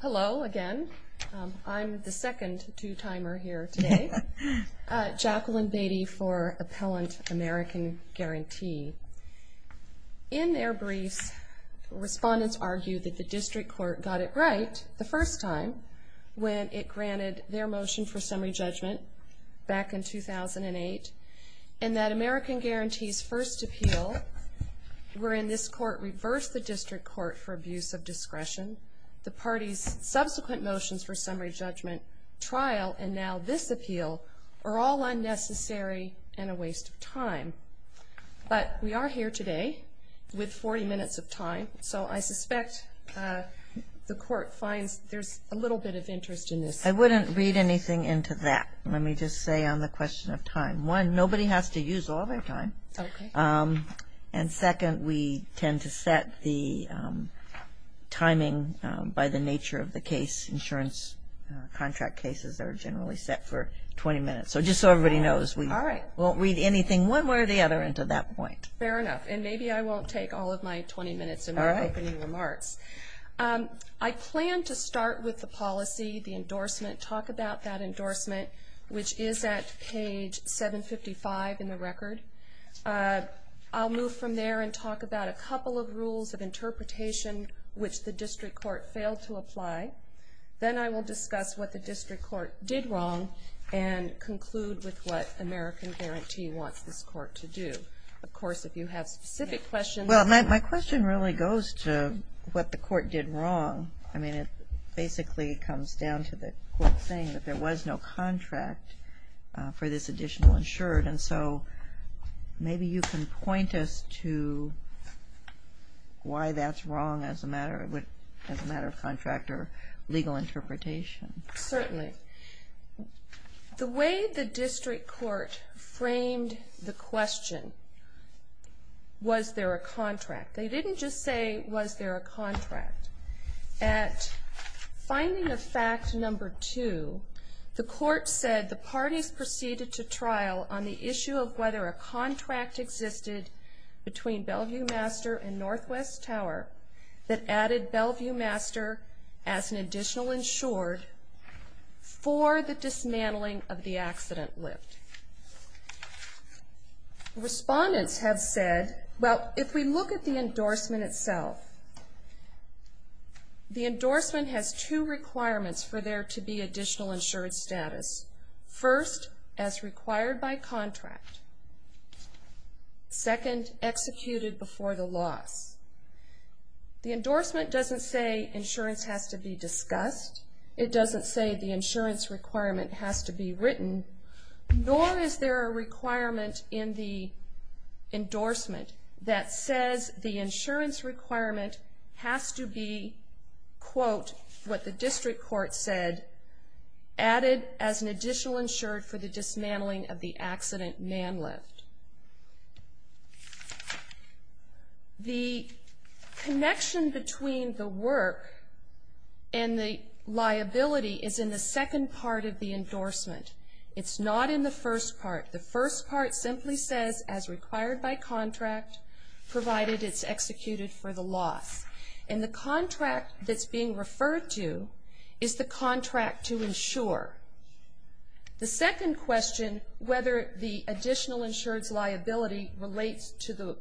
Hello again. I'm the second two-timer here today. Jacqueline Beatty for Appellant American Guarantee. In their briefs, respondents argued that the District Court got it right the first time when it granted their motion for summary judgment back in 2008, and that American Guarantee's first appeal wherein this Court reversed the District Court for abuse of discretion, the party's subsequent motions for summary judgment trial, and now this appeal, are all unnecessary and a waste of time. But we are here today with 40 minutes of time, so I suspect the Court finds there's a little bit of interest in this. I wouldn't read anything into that. Let me just say on the question of time. One, nobody has to use all their time. And second, we tend to set the timing by the nature of the case. Insurance contract cases are generally set for 20 minutes. So just so everybody knows, we won't read anything one way or the other into that point. Fair enough. And maybe I won't take all of my 20 minutes in my opening remarks. I plan to start with the policy, the endorsement, talk about that endorsement, which is at page 755 in the record. I'll move from there and talk about a couple of rules of interpretation which the District Court failed to apply. Then I will discuss what the District Court did wrong and conclude with what American Guarantee wants this Court to do. Of course, if you have specific questions. Well, my question really goes to what the Court did wrong. I mean, it basically comes down to the Court saying that there was no contract for this additional insured, and so maybe you can point us to why that's wrong as a matter of contract legal interpretation. Certainly. The way the District Court framed the question, was there a contract? They didn't just say, was there a contract? At finding of fact number two, the Court said the parties proceeded to trial on the issue of whether a contract existed between Bellevue Master as an additional insured for the dismantling of the accident lift. Respondents have said, well, if we look at the endorsement itself, the endorsement has two requirements for there to be additional insured status. First, as required by contract. Second, executed before the loss. The endorsement doesn't say insurance has to be discussed. It doesn't say the insurance requirement has to be written, nor is there a requirement in the endorsement that says the insurance requirement has to be, quote, what the District Court said, added as an additional insured for the dismantling of the accident man lift. The connection between the work and the liability is in the second part of the endorsement. It's not in the first part. The first part simply says, as required by contract, provided it's executed for the loss. And the contract that's being referred to is the contract to insure. The second question, whether the additional insured's liability relates to the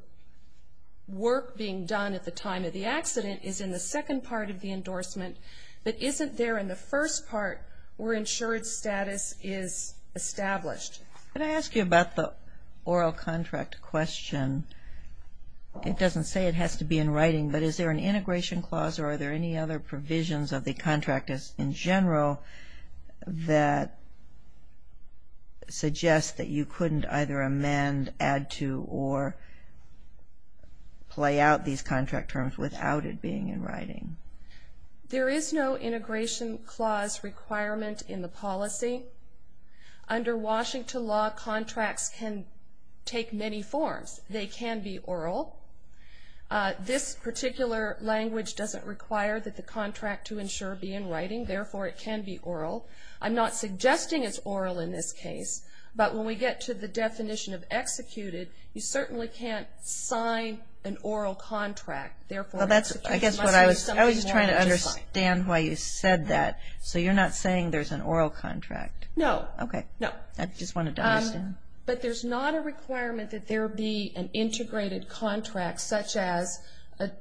work being done at the time of the accident is in the second part of the endorsement, but isn't there in the first part where insured status is established. Can I ask you about the oral contract question? It doesn't say it has to be in writing, but is there an integration clause, or are there any other provisions of the contract in general that suggest that you couldn't either amend, add to, or play out these contract terms without it being in writing? There is no integration clause requirement in the policy. Under Washington law, contracts can take many forms. They can be oral. This particular language doesn't require that the contract to insure be in writing, therefore it can be oral. I'm not suggesting it's oral in this case, but when we get to the definition of executed, you certainly can't sign an oral contract. I was just trying to understand why you said that. So you're not saying there's an oral contract? No, but there's not a requirement that there be an integrated contract, such as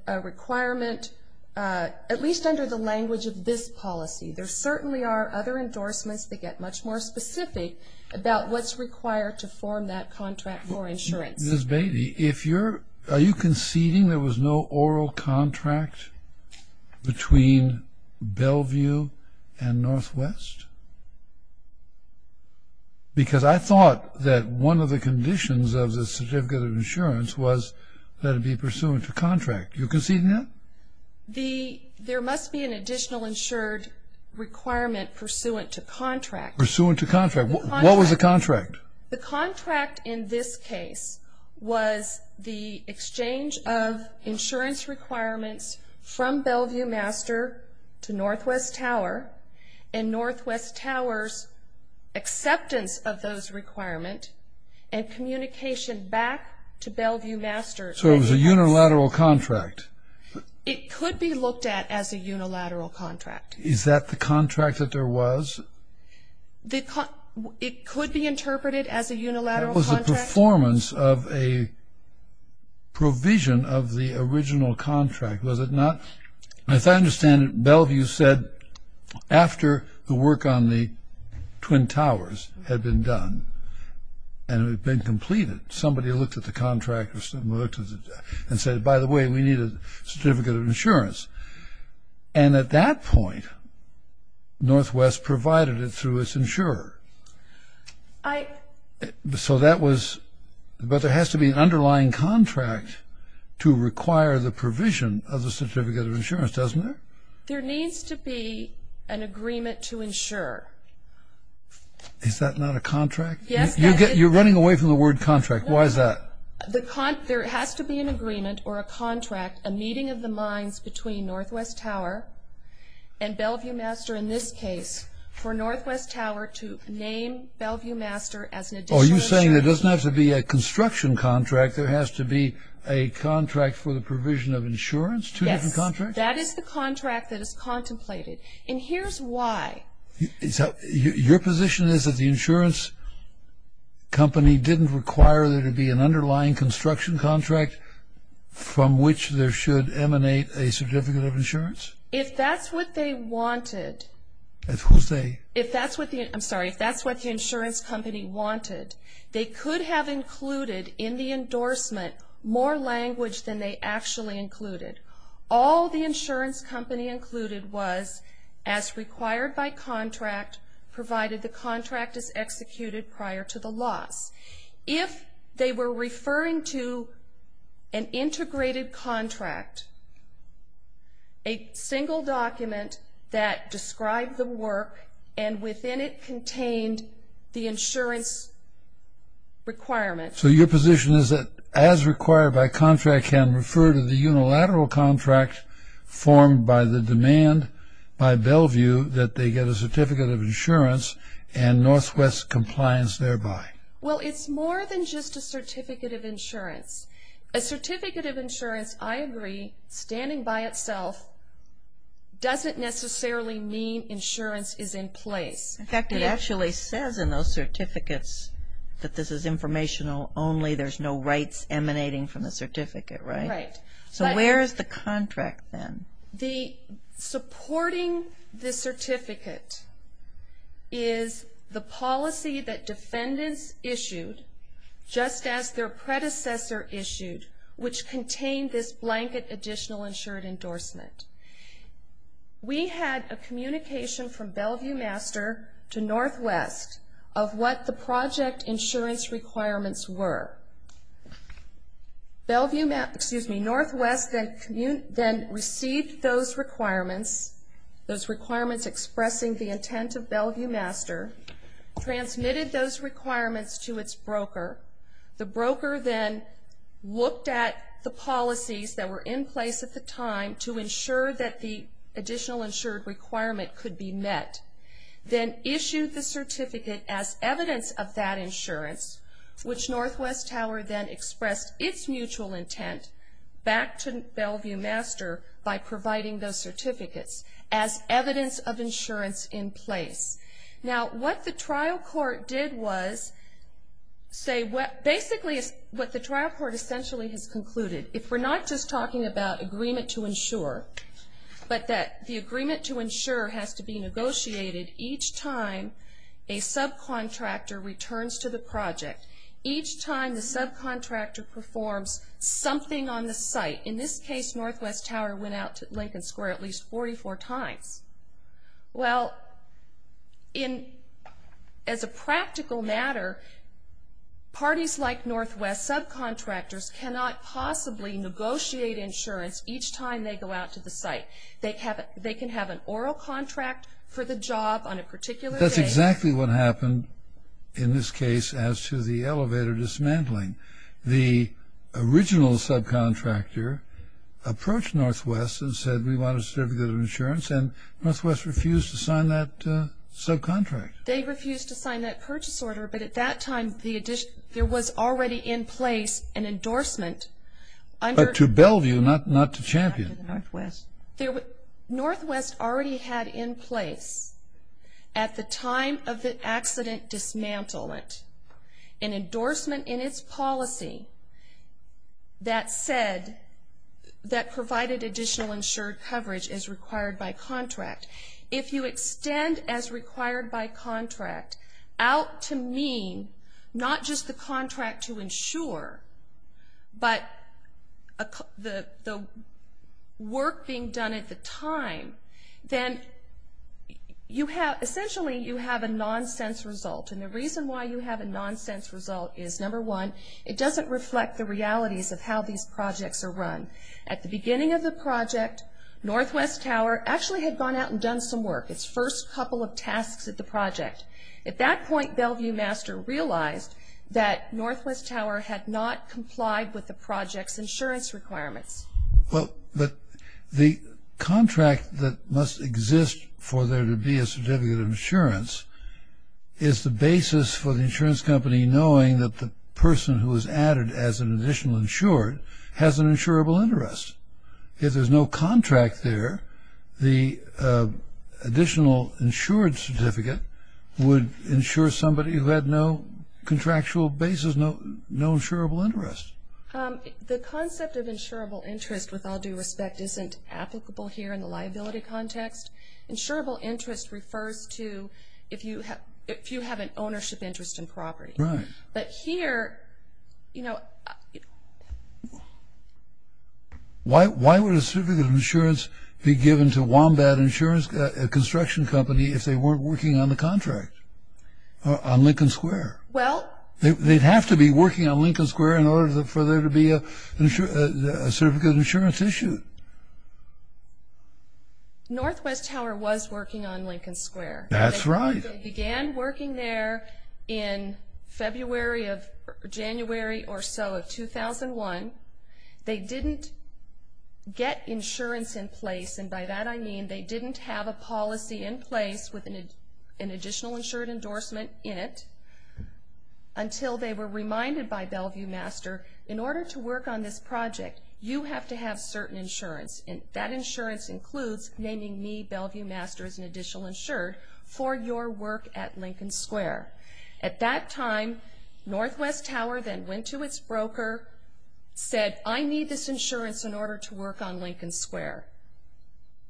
a requirement, at least under the language of this policy. There certainly are other endorsements that get much more specific about what's required to form that contract for insurance. Are you conceding there was no oral contract between Bellevue and Northwest? Because I thought that one of the conditions of the certificate of insurance was that it be pursuant to contract. Are you conceding that? There must be an additional insured requirement pursuant to contract. Pursuant to contract. What was the contract? The contract in this case was the exchange of insurance requirements from Bellevue Master to Northwest Tower, and Northwest Tower's acceptance of those requirements and communication back to Bellevue Master. So it was a unilateral contract? It could be looked at as a unilateral contract. Is that the contract that there was? It could be interpreted as a unilateral contract. What was the performance of a provision of the original contract? Was it not as I understand it, Bellevue said after the work on the contract and said, by the way, we need a certificate of insurance. And at that point, Northwest provided it through its insurer. So that was, but there has to be an underlying contract to require the provision of the certificate of insurance, doesn't there? There needs to be an agreement to insure. Is that not a contract? You're running away from the word contract. Why is that? There has to be an agreement or a contract, a meeting of the minds between Northwest Tower and Bellevue Master in this case for Northwest Tower to name Bellevue Master as an additional insurer. Are you saying there doesn't have to be a construction contract, there has to be a contract for the provision of insurance? Yes, that is the contract that is contemplated. And here's why. Your position is that the insurance company didn't require there to be an underlying construction contract from which there should emanate a certificate of insurance? If that's what they wanted. If that's what the insurance company wanted, they could have all the insurance company included was as required by contract provided the contract is executed prior to the loss. If they were referring to an integrated contract, a single document that described the work and within it contained the insurance requirement. So your position is that as required by contract can refer to the unilateral contract formed by the demand by Bellevue that they get a certificate of insurance and Northwest compliance thereby? Well, it's more than just a certificate of insurance. A certificate of insurance, I agree, standing by itself doesn't necessarily mean insurance is in place. In fact, it actually says in those certificates that this is informational only. There's no rights emanating from the certificate, right? So where is the contract then? Supporting the certificate is the policy that defendants issued just as their predecessor issued, which contained this blanket additional insured endorsement. We had a communication from Bellevue Master to Northwest of what the project insurance requirements were. Bellevue, excuse me, Northwest then received those requirements, those requirements expressing the intent of Bellevue Master, transmitted those requirements to its broker. The broker then looked at the policies that were in place at the time to ensure that the additional insured requirement could be met. Then issued the certificate as evidence of that insurance, which Northwest Tower then expressed its mutual intent back to Bellevue Master by providing those certificates as evidence of insurance in place. Now what the trial court did was say basically what the trial court essentially has concluded. If we're not just talking about agreement to insure, but that the agreement to insure has to be negotiated each time a subcontractor returns to the project, each time the subcontractor performs something on the site, in this case Northwest Tower went out to Lincoln Square at least 44 times. Well, as a practical matter, parties like Northwest subcontractors cannot possibly negotiate insurance each time they go out to the site. They can have an oral contract for the job on a particular day. That's exactly what happened in this case as to the elevator dismantling. The Northwest refused to sign that subcontract. They refused to sign that purchase order, but at that time there was already in place an endorsement to Bellevue, not to Champion. Northwest already had in place at the time of the accident dismantlement an endorsement in its policy that said that provided additional insured coverage is required by contract. If you extend as required by contract out to mean not just the contract to insure, but the work being done at the time, then essentially you have a nonsense result. And the reason why you have a nonsense result is, number one, it doesn't reflect the realities of how these projects are run. At the beginning of the project, Northwest Tower actually had gone out and done some work, its first couple of tasks at the project. At that point Bellevue Master realized that Northwest Tower had not complied with the project's insurance requirements. Well, but the contract that must exist for there to be a certificate of insurance is the basis for the insurance company knowing that the person who is added as an additional insured has an insurable interest. If there's no contract there, the additional insured certificate would insure somebody who had no contractual basis, no insurable interest. The concept of insurable interest, with all due respect, isn't applicable here in the liability context. Insurable interest refers to if you have an ownership interest in property. But here, you know... Why would a certificate of insurance be given to Wombat Insurance Construction Company if they weren't working on the contract on Lincoln Square? Well... They'd have to be working on Lincoln Square in order for there to be a certificate of insurance issued. Northwest Tower was working on Lincoln Square. That's right. They began working there in February of January or so of 2001. They didn't get insurance in place, and by that I mean they didn't have a policy in place with an additional insured endorsement in it until they were reminded by Bellevue Master, in order to work on this project, you have to have certain insurance. And that insurance includes naming me, Bellevue Master, as an additional insured for your work at Lincoln Square. At that time, Northwest Tower then went to its broker, said, I need this insurance in order to work on Lincoln Square.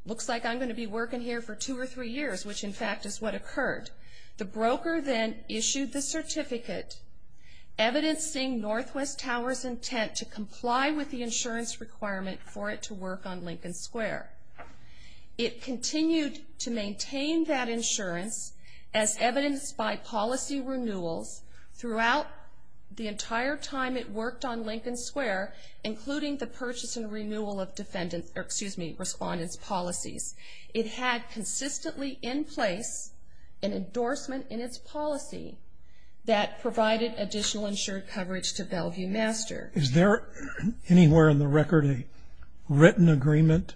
Looks like I'm going to be working here for two or three years, which in fact is what occurred. The broker then issued the certificate evidencing Northwest Tower's intent to comply with the insurance requirement for it to work on Lincoln Square. It continued to maintain that insurance as evidenced by policy renewals throughout the entire time it worked on Lincoln Square, including the purchase and renewal of respondent's policies. It had consistently in place an endorsement in its policy that provided additional insured coverage to Bellevue Master. Is there anywhere in the record a written agreement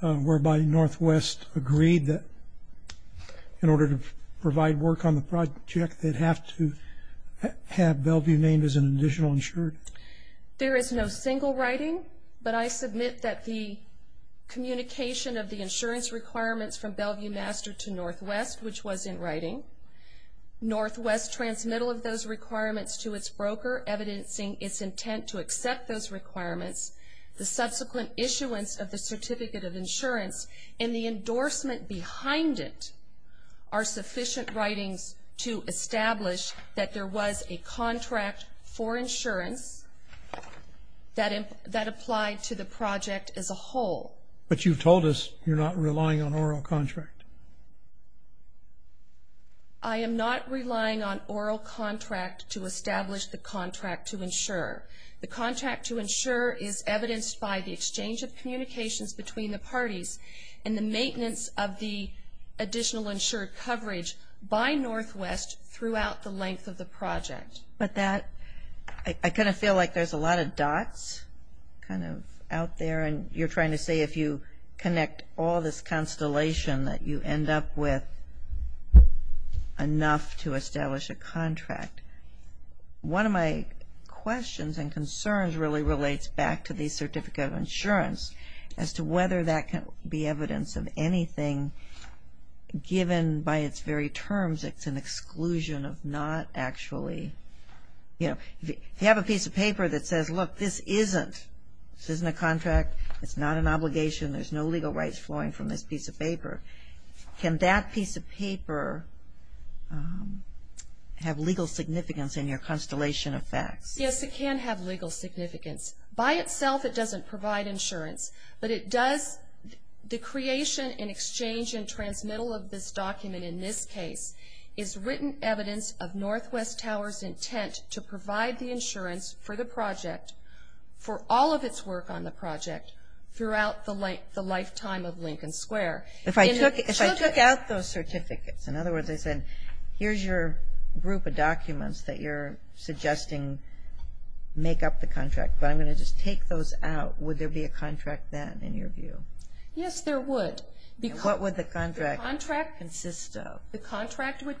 whereby Northwest agreed that in order to provide work on the project, they'd have to have Bellevue named as an additional insured? There is no single writing, but I submit that the communication of the insurance requirements from Bellevue Master to Northwest, which was in writing, Northwest transmittal of those requirements to its broker, evidencing its intent to accept those requirements, the subsequent issuance of the certificate of insurance, and the endorsement behind it are sufficient writings to establish that there was a contract for insurance that applied to the project as a whole. But you've told us you're not relying on oral contract. I am not relying on oral contract to establish the contract to insure. The contract to insure is evidenced by the exchange of communications between the parties and the maintenance of the additional insured coverage by Northwest throughout the length of the project. I kind of feel like there's a lot of dots kind of out there, and you're trying to say if you connect all this constellation that you end up with enough to establish a contract. One of my questions and concerns really relates back to the certificate of insurance as to whether that can be evidence of anything given by its very terms. It's an exclusion of not actually, you know, if you have a piece of paper that says, look, this isn't, this isn't a contract, it's not an obligation, there's no legal rights flowing from this piece of paper. Can that piece of paper have legal significance in your constellation of facts? Yes, it can have legal significance. By itself it doesn't provide insurance, but it does, the creation and exchange and transmittal of this document in this case is written evidence of Northwest Tower's intent to provide the insurance for the project, for all of its work on the project throughout the lifetime of Lincoln Square. If I took out those certificates, in other words, I said, here's your group of documents that you're suggesting make up the contract, but I'm going to just take those out, would there be a contract then in your view? Yes, there would. What would the contract consist of? The contract would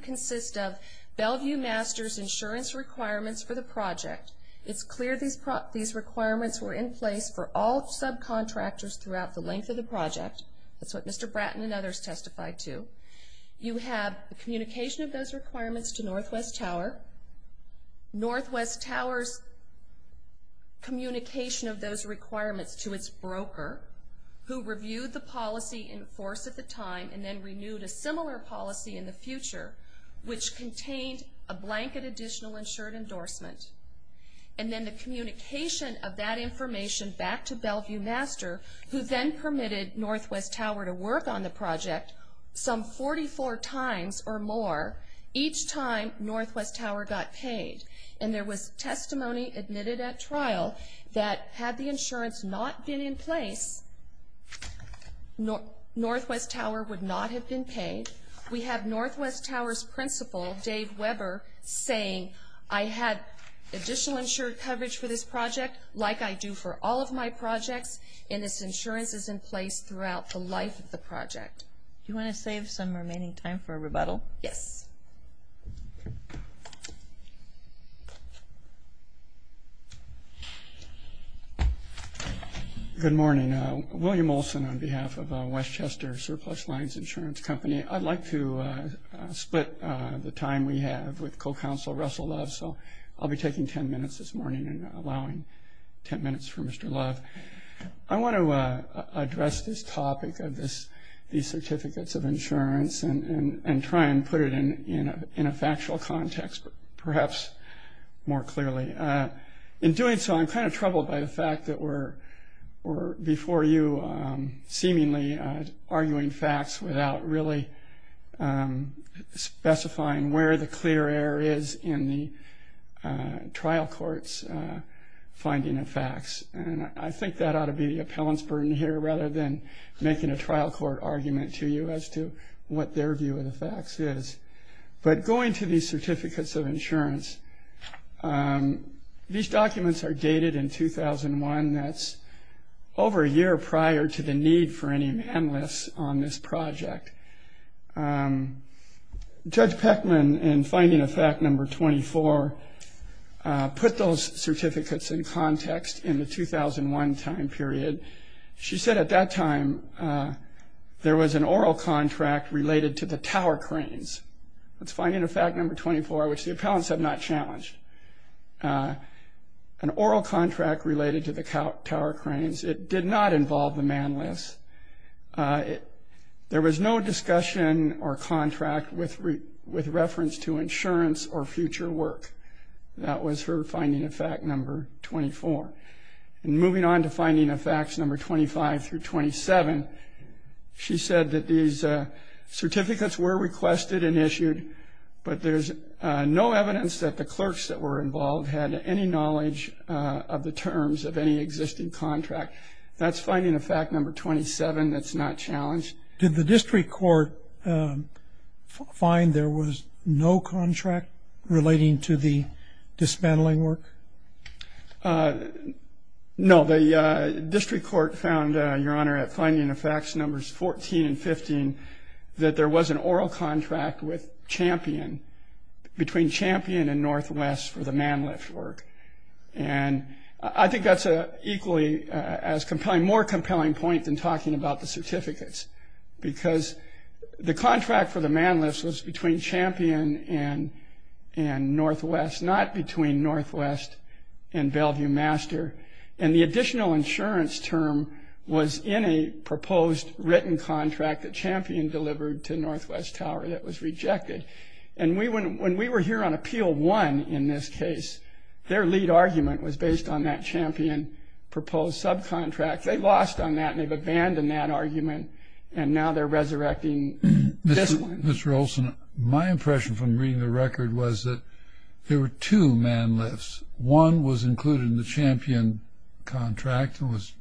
It's clear these requirements were in place for all subcontractors throughout the length of the project. That's what Mr. Bratton and others testified to. You have the communication of those requirements to Northwest Tower. Northwest Tower's communication of those requirements to its broker, who reviewed the policy in force at the time and then renewed a similar policy in the future which contained a blanket additional insured endorsement. And then the communication of that information back to Bellevue Master, who then permitted Northwest Tower to work on the project some 44 times or more each time Northwest Tower got paid. And there was testimony admitted at trial that had the insurance not been in place Northwest Tower would not have been paid. We have Northwest Tower's principal, Dave Weber, saying I had additional insured coverage for this project like I do for all of my projects and this insurance is in place throughout the life of the project. Do you want to save some remaining time for a rebuttal? Yes. Good morning. William Olson on behalf of Westchester Surplus Lines Insurance Company. I'd like to split the time we have with Co-Counsel Russell Love, so I'll be taking ten minutes this morning and allowing ten minutes for Mr. Love. I want to address this topic of these certificates of insurance and try and put it in a factual context, perhaps more clearly. In doing so, I'm kind of troubled by the fact that we're before you seemingly arguing facts without really specifying where the clear error is in the trial court's finding of facts. And I think that ought to be the appellant's burden here rather than making a trial court argument to you as to what their view of the facts is. But going to these certificates of insurance, these documents are dated in 2001. That's over a year prior to the need for any man lists on this project. Judge Peckman in finding of fact number 24 put those She said at that time there was an oral contract related to the tower cranes. That's finding of fact number 24, which the appellants have not challenged. An oral contract related to the tower cranes. It did not involve the man lists. There was no discussion or contract with reference to insurance or future work. That was her finding of facts number 25 through 27. She said that these certificates were requested and issued, but there's no evidence that the clerks that were involved had any knowledge of the terms of any existing contract. That's finding of fact number 27 that's not challenged. Did the district court find there was no contract relating to the dismantling work? No, the district court found, your honor, at finding of facts numbers 14 and 15 that there was an oral contract with Champion, between Champion and Northwest for the man lift work. And I think that's equally as compelling, more compelling point than talking about the certificates, because the contract for the man lifts was between Champion and Northwest, not between Northwest and Bellevue Master. And the additional insurance term was in a proposed written contract that Champion delivered to Northwest Tower that was rejected. When we were here on appeal one in this case, their lead argument was based on that Champion proposed subcontract. They lost on that and they've abandoned that argument and now they're resurrecting this one. Mr. Olson, my impression from reading the record was that there were two man lifts. One was included in the Champion contract and was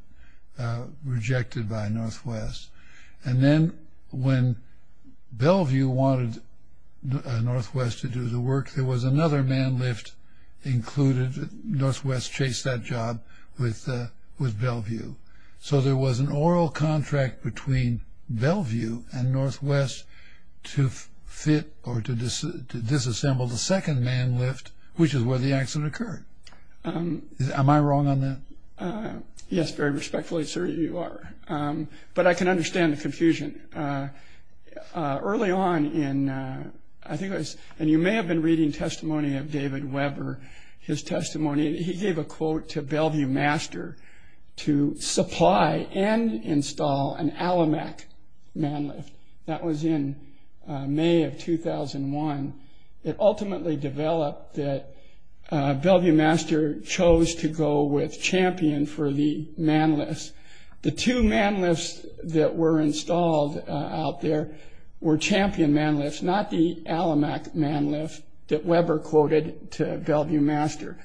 rejected by Northwest. And then when Bellevue wanted Northwest to do the work, there was another man lift included. Northwest chased that job with Bellevue. So there was an oral contract between Bellevue and Northwest to fit or to disassemble the second man lift, which is where the accident occurred. Am I wrong on that? Yes, very respectfully, sir, you are. But I can understand the confusion. Early on in, I think it was, and you may have been reading testimony of David Weber. His testimony, he gave a quote to Bellevue Master to supply and install an Alamac man lift. That was in May of 2001. It ultimately developed that Bellevue Master chose to go with Champion for the man lifts. The two man lifts that were installed out there were Champion man lifts, not the Alamac man lift that Weber quoted to Bellevue Master.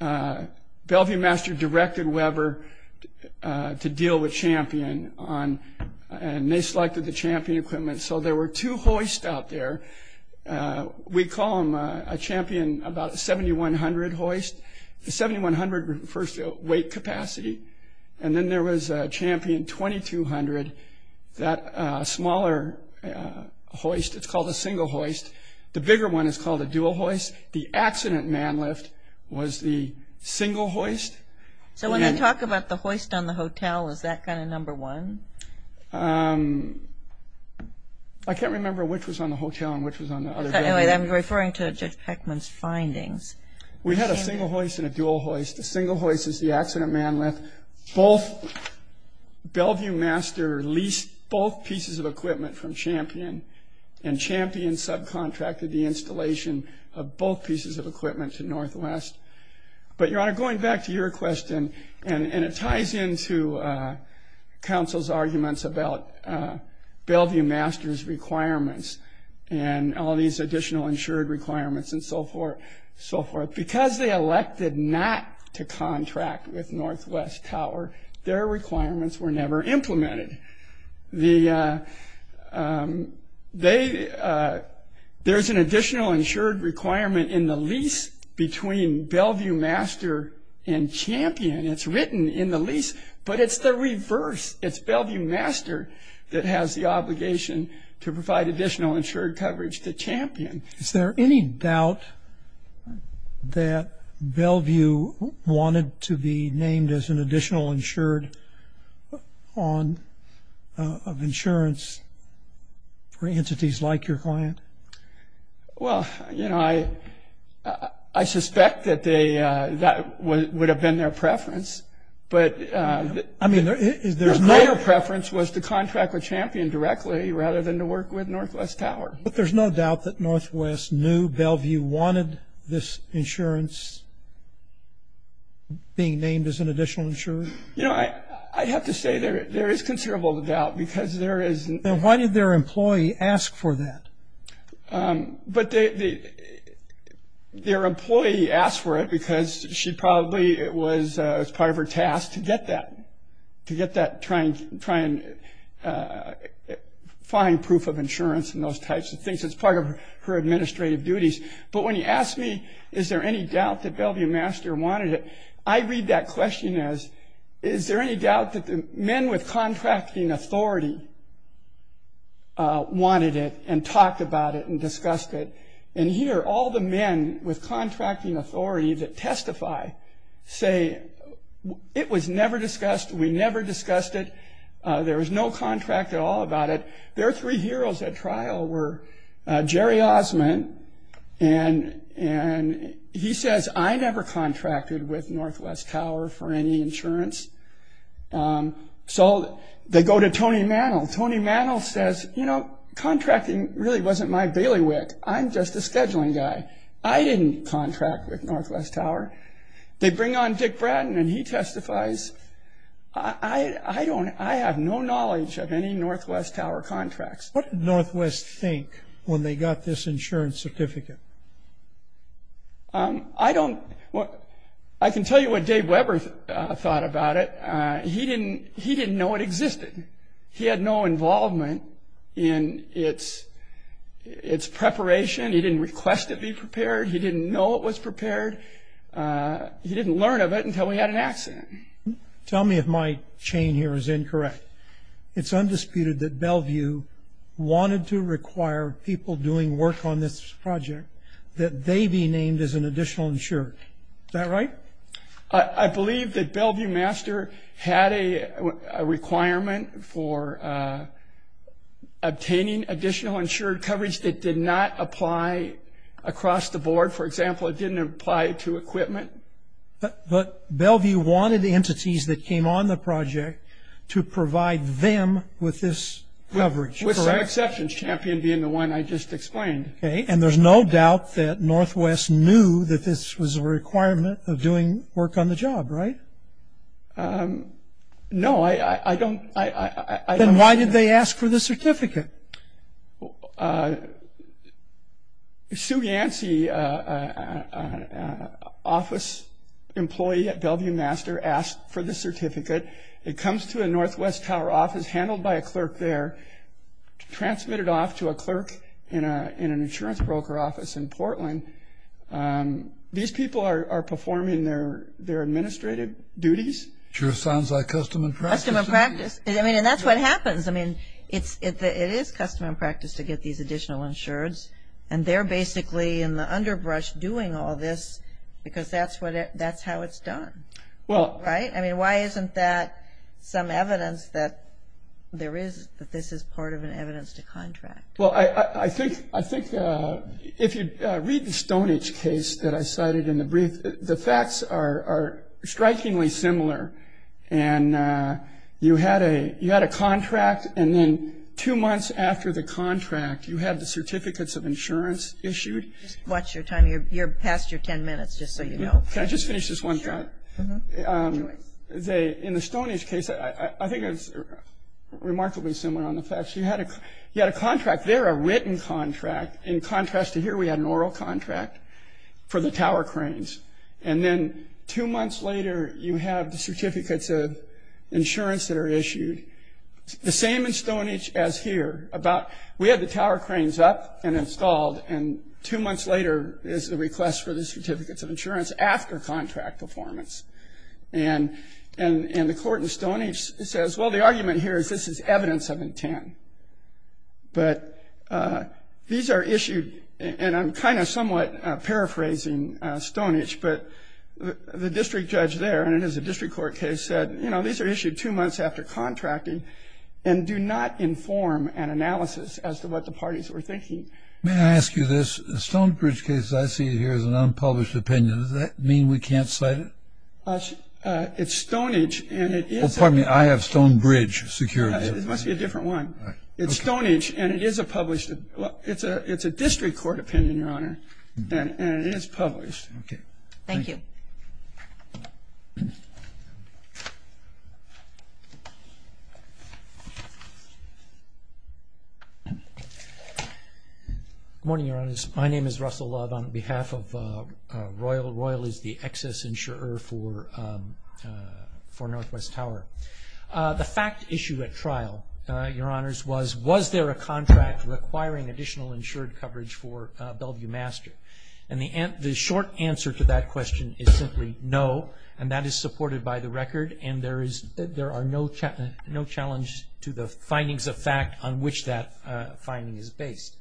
Bellevue Master directed Weber to deal with Champion and they selected the Champion equipment. So there were two hoists out there. We call them a Champion 7100 hoist. The 7100 refers to weight capacity. And then there was a Champion 2200, that smaller hoist. It's called a single hoist. The bigger one is called a dual hoist. The accident man lift was the single hoist. So when they talk about the hoist on the hotel, is that kind of number one? I can't remember which was on the hotel and which was on the other. I'm referring to Jeff Peckman's findings. We had a single hoist and a dual hoist. The single hoist is the accident man lift. Bellevue Master leased both pieces of equipment from Champion and Champion subcontracted the installation of both pieces of equipment to Northwest. But Your Honor, going back to your question, and it ties into counsel's arguments about Bellevue Master's requirements and all these additional insured requirements and so forth. Because they elected not to contract with Northwest Tower, their requirements were never implemented. There's an additional insured requirement in the lease between Bellevue Master and Champion. It's written in the lease, but it's the reverse. It's Bellevue Master that has the obligation to provide additional insured coverage to Champion. Is there any doubt that Bellevue wanted to be named as an additional insured of insurance for entities like your client? Well, I suspect that would have been their preference. Their preference was to contract with Champion directly rather than to work with Northwest Tower. But there's no doubt that Northwest knew Bellevue wanted this insurance being named as an additional insured? I have to say there is considerable doubt. Why did their employee ask for that? Their employee asked for it because it was part of her task to get that trying to find proof of insurance and those types of things. It's part of her administrative duties. But when you ask me, is there any doubt that Bellevue Master wanted it? I read that question as, is there any doubt that the men with contracting authority wanted it and talked about it and discussed it? And here, all the men with contracting authority that talked about it discussed it. There was no contract at all about it. Their three heroes at trial were Jerry Osmond, and he says, I never contracted with Northwest Tower for any insurance. They go to Tony Mantle. Tony Mantle says, you know, contracting really wasn't my bailiwick. I'm just a scheduling guy. I didn't contract with Northwest Tower. They bring on Dick Bratton, and he testifies, I have no knowledge of any Northwest Tower contracts. What did Northwest think when they got this insurance certificate? I can tell you what Dave Weber thought about it. He didn't know it existed. He had no involvement in its preparation. He didn't request it be prepared. He didn't know it was prepared. He didn't learn of it until he had an accident. Tell me if my chain here is incorrect. It's undisputed that Bellevue wanted to require people doing work on this project that they be named as an additional insured. Is that right? I believe that Bellevue Master had a requirement for obtaining additional insured coverage that did not apply across the board. For example, it didn't apply to equipment. But Bellevue wanted entities that came on the project to provide them with this coverage. With some exceptions, Champion being the one I just explained. And there's no doubt that Northwest knew that this was a requirement of doing work on the job, right? Then why did they ask for the certificate? Sue Yancy, an office employee at Bellevue Master, asked for the certificate. It comes to a Northwest Tower office handled by a clerk there, transmitted off to a clerk in an insurance broker office in Portland. These people are performing their administrative duties. Sure sounds like custom and practice. And that's what happens. It is custom and practice to get these additional insureds. They're basically in the underbrush doing all this because that's how it's done. Why isn't that some evidence that there is, that this is part of an evidence to contract? If you read the Stonehenge case that I cited in the brief, the facts are strikingly similar. You had a contract and then two months after the contract, you had the certificates of insurance issued. Just watch your time. You're past your ten minutes, just so you know. Can I just finish this one thought? In the Stonehenge case, I think it's remarkably similar on the facts. You had a contract there, a written contract. In contrast to here, we had an oral contract for the tower cranes. And then two months later, you have the certificates of insurance that are issued. The same in Stonehenge as here. We had the tower cranes up and after contract performance. And the court in Stonehenge says, well, the argument here is this is evidence of intent. But these are issued, and I'm kind of somewhat paraphrasing Stonehenge, but the district judge there, and it is a district court case, said, you know, these are issued two months after contracting and do not inform an analysis as to what the parties were thinking. May I ask you this? The Stonehenge case I see here is an unpublished opinion. Does that mean we can't cite it? It's Stonehenge. I have Stonehenge security. It must be a different one. It's Stonehenge, and it is a published opinion. It's a district court opinion, Your Honor, and it is published. Thank you. Good morning, Your Honors. My name is Russell Love on behalf of Royal. Royal is the excess insurer for Northwest Tower. The fact issue at trial, Your Honors, was was there a contract requiring additional insured coverage for Bellevue Master? And the short answer to that question is simply no, and that is supported by the record, and there are no challenges to the findings of fact on which that finding is based.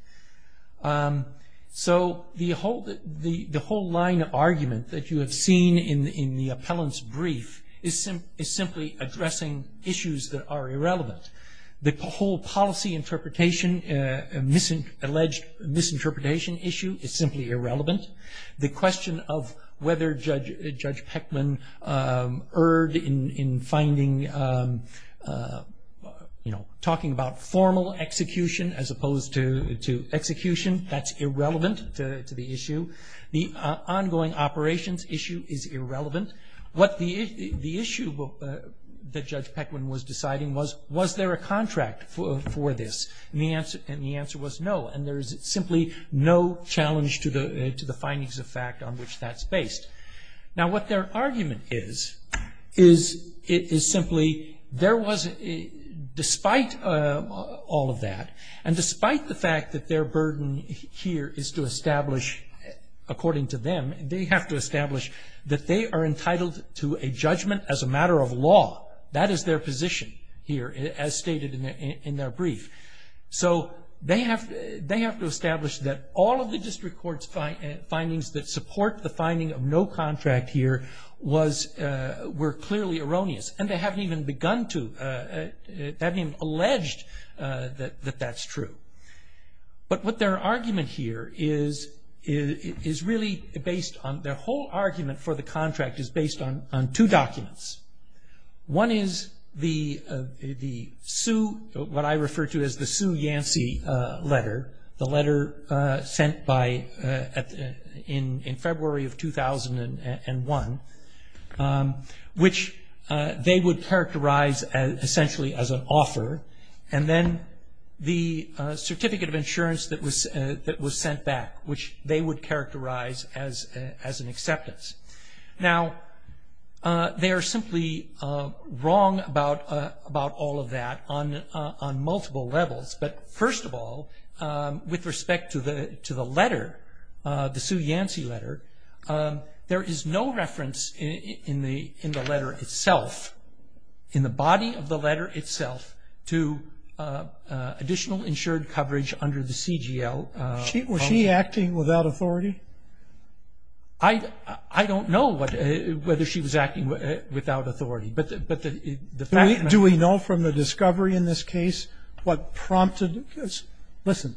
So the whole line of argument that you have seen in the appellant's brief is simply addressing issues that are irrelevant. The whole policy interpretation, alleged misinterpretation issue is simply irrelevant. The question of whether Judge talking about formal execution as opposed to execution, that's irrelevant to the issue. The ongoing operations issue is irrelevant. The issue that Judge Pequin was deciding was, was there a contract for this? And the answer was no, and there is simply no challenge to the findings of fact on which that's based. Now what their argument is, is it is simply there was, despite all of that, and despite the fact that their burden here is to establish, according to them, they have to establish that they are entitled to a judgment as a matter of law. That is their position here, as stated in their brief. So they have to establish that all of the arguments were clearly erroneous, and they haven't even begun to, they haven't even alleged that that's true. But what their argument here is, is really based on, their whole argument for the contract is based on two documents. One is the, the Sue, what I refer to as the Sue Yancy letter, the letter sent by, in February of 2001, which they would characterize essentially as an offer. And then the certificate of insurance that was, that was sent back, which they would characterize as, as an acceptance. Now, they are simply wrong about, about all of that on, on multiple levels. But first of all, with respect to the, to the letter, the Sue Yancy letter, there is no reference in the, in the letter itself, in the body of the letter itself, to additional insured coverage under the CGL. Was she acting without authority? I, I don't know what, whether she was prompting, listen,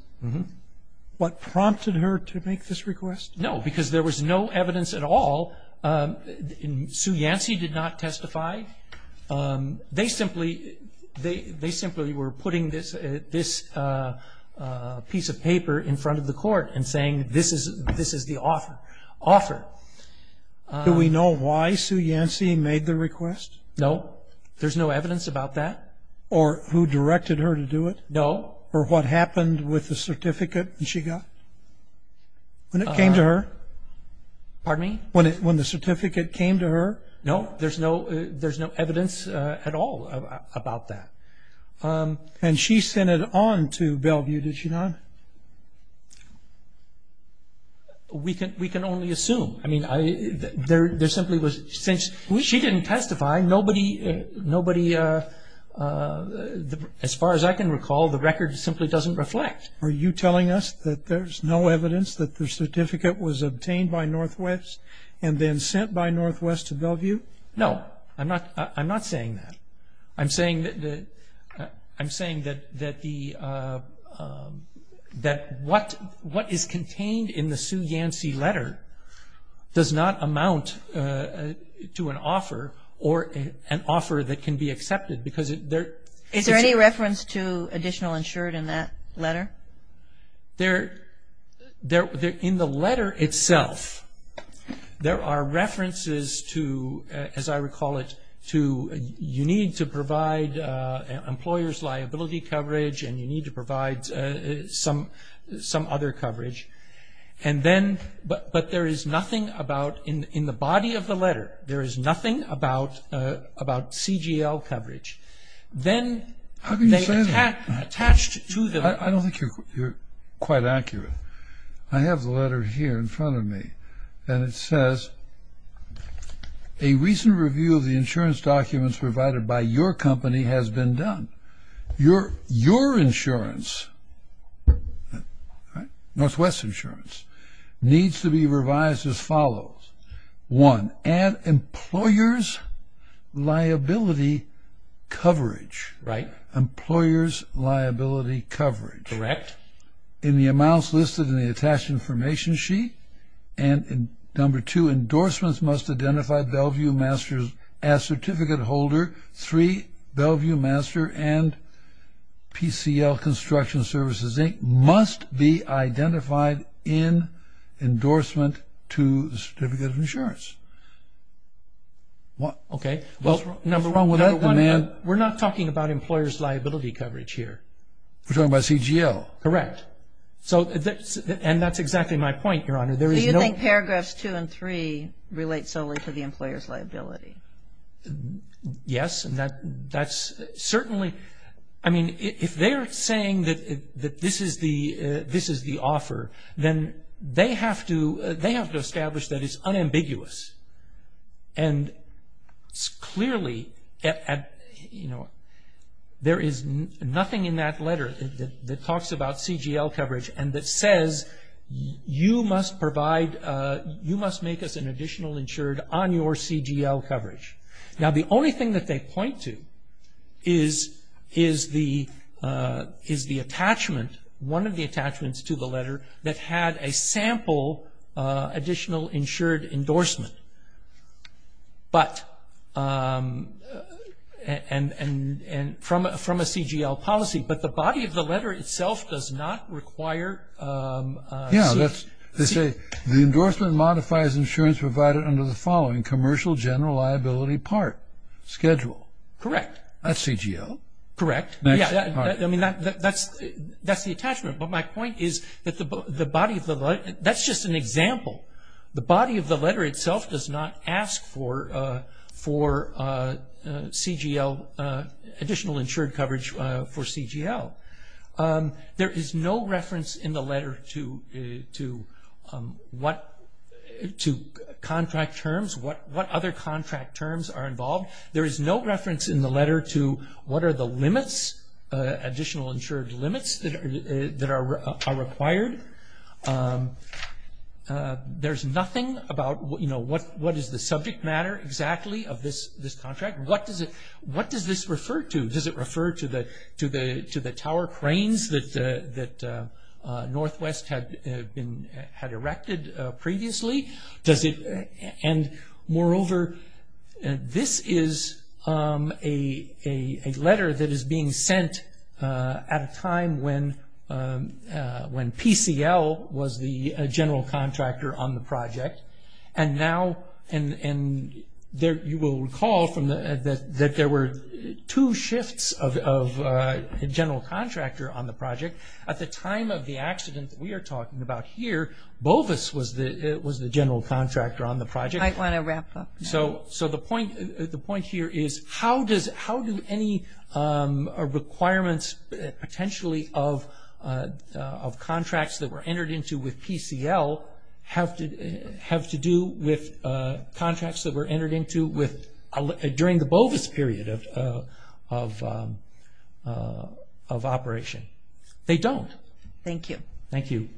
what prompted her to make this request? No, because there was no evidence at all. Sue Yancy did not testify. They simply, they, they simply were putting this, this piece of paper in front of the court and saying this is, this is the offer, offer. Do we know why Sue Yancy made the request? No. There's no evidence about that. Or who directed her to do it? No. Or what happened with the certificate she got? When it came to her? Pardon me? When it, when the certificate came to her? No, there's no, there's no evidence at all about that. And she sent it on to Bellevue, did she not? We can, we can only assume. I mean, I, there, there simply was, since she didn't testify, nobody, nobody, as far as I can recall, the record simply doesn't reflect. Are you telling us that there's no evidence that the certificate was obtained by Northwest and then sent by Northwest to Bellevue? No, I'm not, I'm not saying that. I'm saying that, I'm saying that, that the, that what, what is contained in the Sue Yancy letter does not amount to an offer or an offer that can be accepted because there. Is there any reference to additional insured in that letter? There, there, in the letter itself, there are references to, as I recall it, to you need to provide employer's liability coverage and you need to provide some, some other coverage. And then, but, but there is nothing about, in, in the body of the letter, there is nothing about, about CGL coverage. Then they attached to the. I don't think you're, you're quite accurate. I have the letter here in front of me and it says, a recent review of the insurance documents provided by your company has been done. Your, your insurance, Northwest insurance, needs to be revised as follows. One, add employer's liability coverage. Right. Employer's liability coverage. Correct. In the amounts listed in the attached information sheet and in number two, endorsements must identify Bellevue Masters as certificate holder. Three, Bellevue Master and PCL Construction Services Inc. must be identified in endorsement to certificate of insurance. Okay. Number one, we're not talking about employer's liability coverage here. We're talking about CGL. So, and that's exactly my point, Your Honor. Do you think paragraphs two and three relate solely to the employer's liability? Yes. And that's certainly, I mean, if they're saying that this is the, this is the offer, then they have to, they have to establish that it's unambiguous. And clearly, you know, there is nothing in that letter that talks about CGL coverage and that says you must provide, you must make us an additional insured on your CGL coverage. Now, the only thing that they point to is the attachment, one of the attachments to the letter that had a sample additional insured endorsement, but, and from a CGL policy. But the body of the letter itself does not require CGL. Yeah, they say the endorsement modifies insurance provided under the following, commercial general liability part, schedule. Correct. That's CGL. Correct. I mean, that's the attachment. But my point is that the body of the, that's just an example. The body of the letter itself does not ask for CGL, additional insured coverage for CGL. There is no reference in the letter to what, to contract terms, what other contract terms are involved. There is no reference in the letter to what are the limits, additional insured limits that are required. There's nothing about, you know, what is the subject matter exactly of this contract? What does this refer to? Does it refer to the tower cranes that Northwest had erected previously? And moreover, this is a letter that is being sent at a time when PCL was the general contractor on the project. And now, and you will recall that there were two shifts of general contractor on the project. At the time of the accident that we are talking about here, BOVIS was the general contractor on the project. I want to wrap up. So the point here is how do any requirements potentially of contracts that were entered into with PCL have to do with during the BOVIS period of operation? They don't. Thank you. Thank you.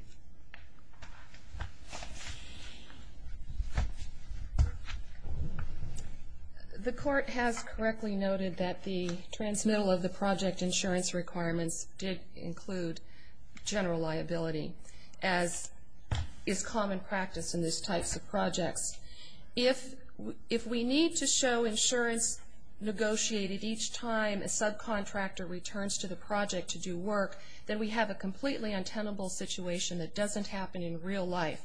The court has correctly noted that the transmittal of the project insurance requirements did include general liability, as is common practice in these types of projects. If we need to show insurance negotiated each time a subcontractor returns to the project to do work, then we have a completely untenable situation that doesn't happen in real life.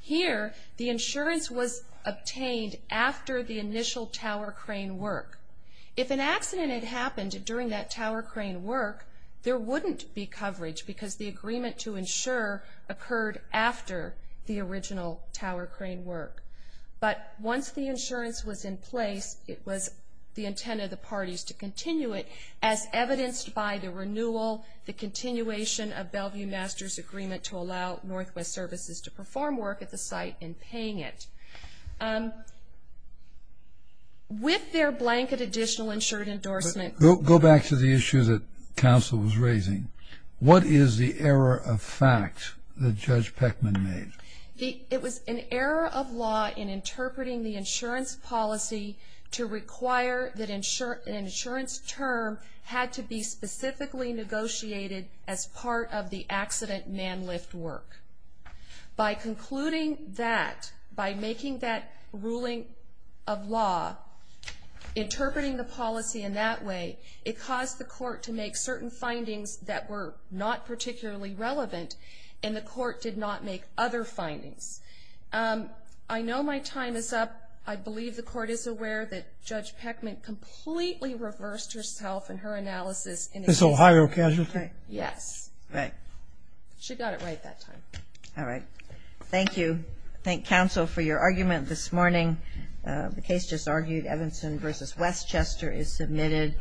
Here, the insurance was obtained after the initial tower crane work. If an accident had happened during that tower crane work, there wouldn't be coverage, because the agreement to insure occurred after the original tower crane work. But once the insurance was in place, it was the intent of the parties to continue it, as evidenced by the renewal, the continuation of Bellevue Masters' agreement to allow Northwest Services to perform work at the site and paying it. With their blanket additional insured endorsement. Go back to the issue that counsel was raising. What is the error of fact that Judge Peckman made? It was an error of law in interpreting the insurance policy to require that an insurance term had to be specifically negotiated as part of the accident man lift work. By concluding that, by making that ruling of law, interpreting the policy in that way, it caused the court to make certain findings that were not particularly relevant, and the court did not make other findings. I know my time is up. I believe the court is aware that Judge Peckman completely reversed herself in her analysis. This Ohio casualty? Yes. Right. She got it right that time. All right. Thank you. Thank counsel for your argument this morning. The case just argued. Evanson v. Westchester is submitted.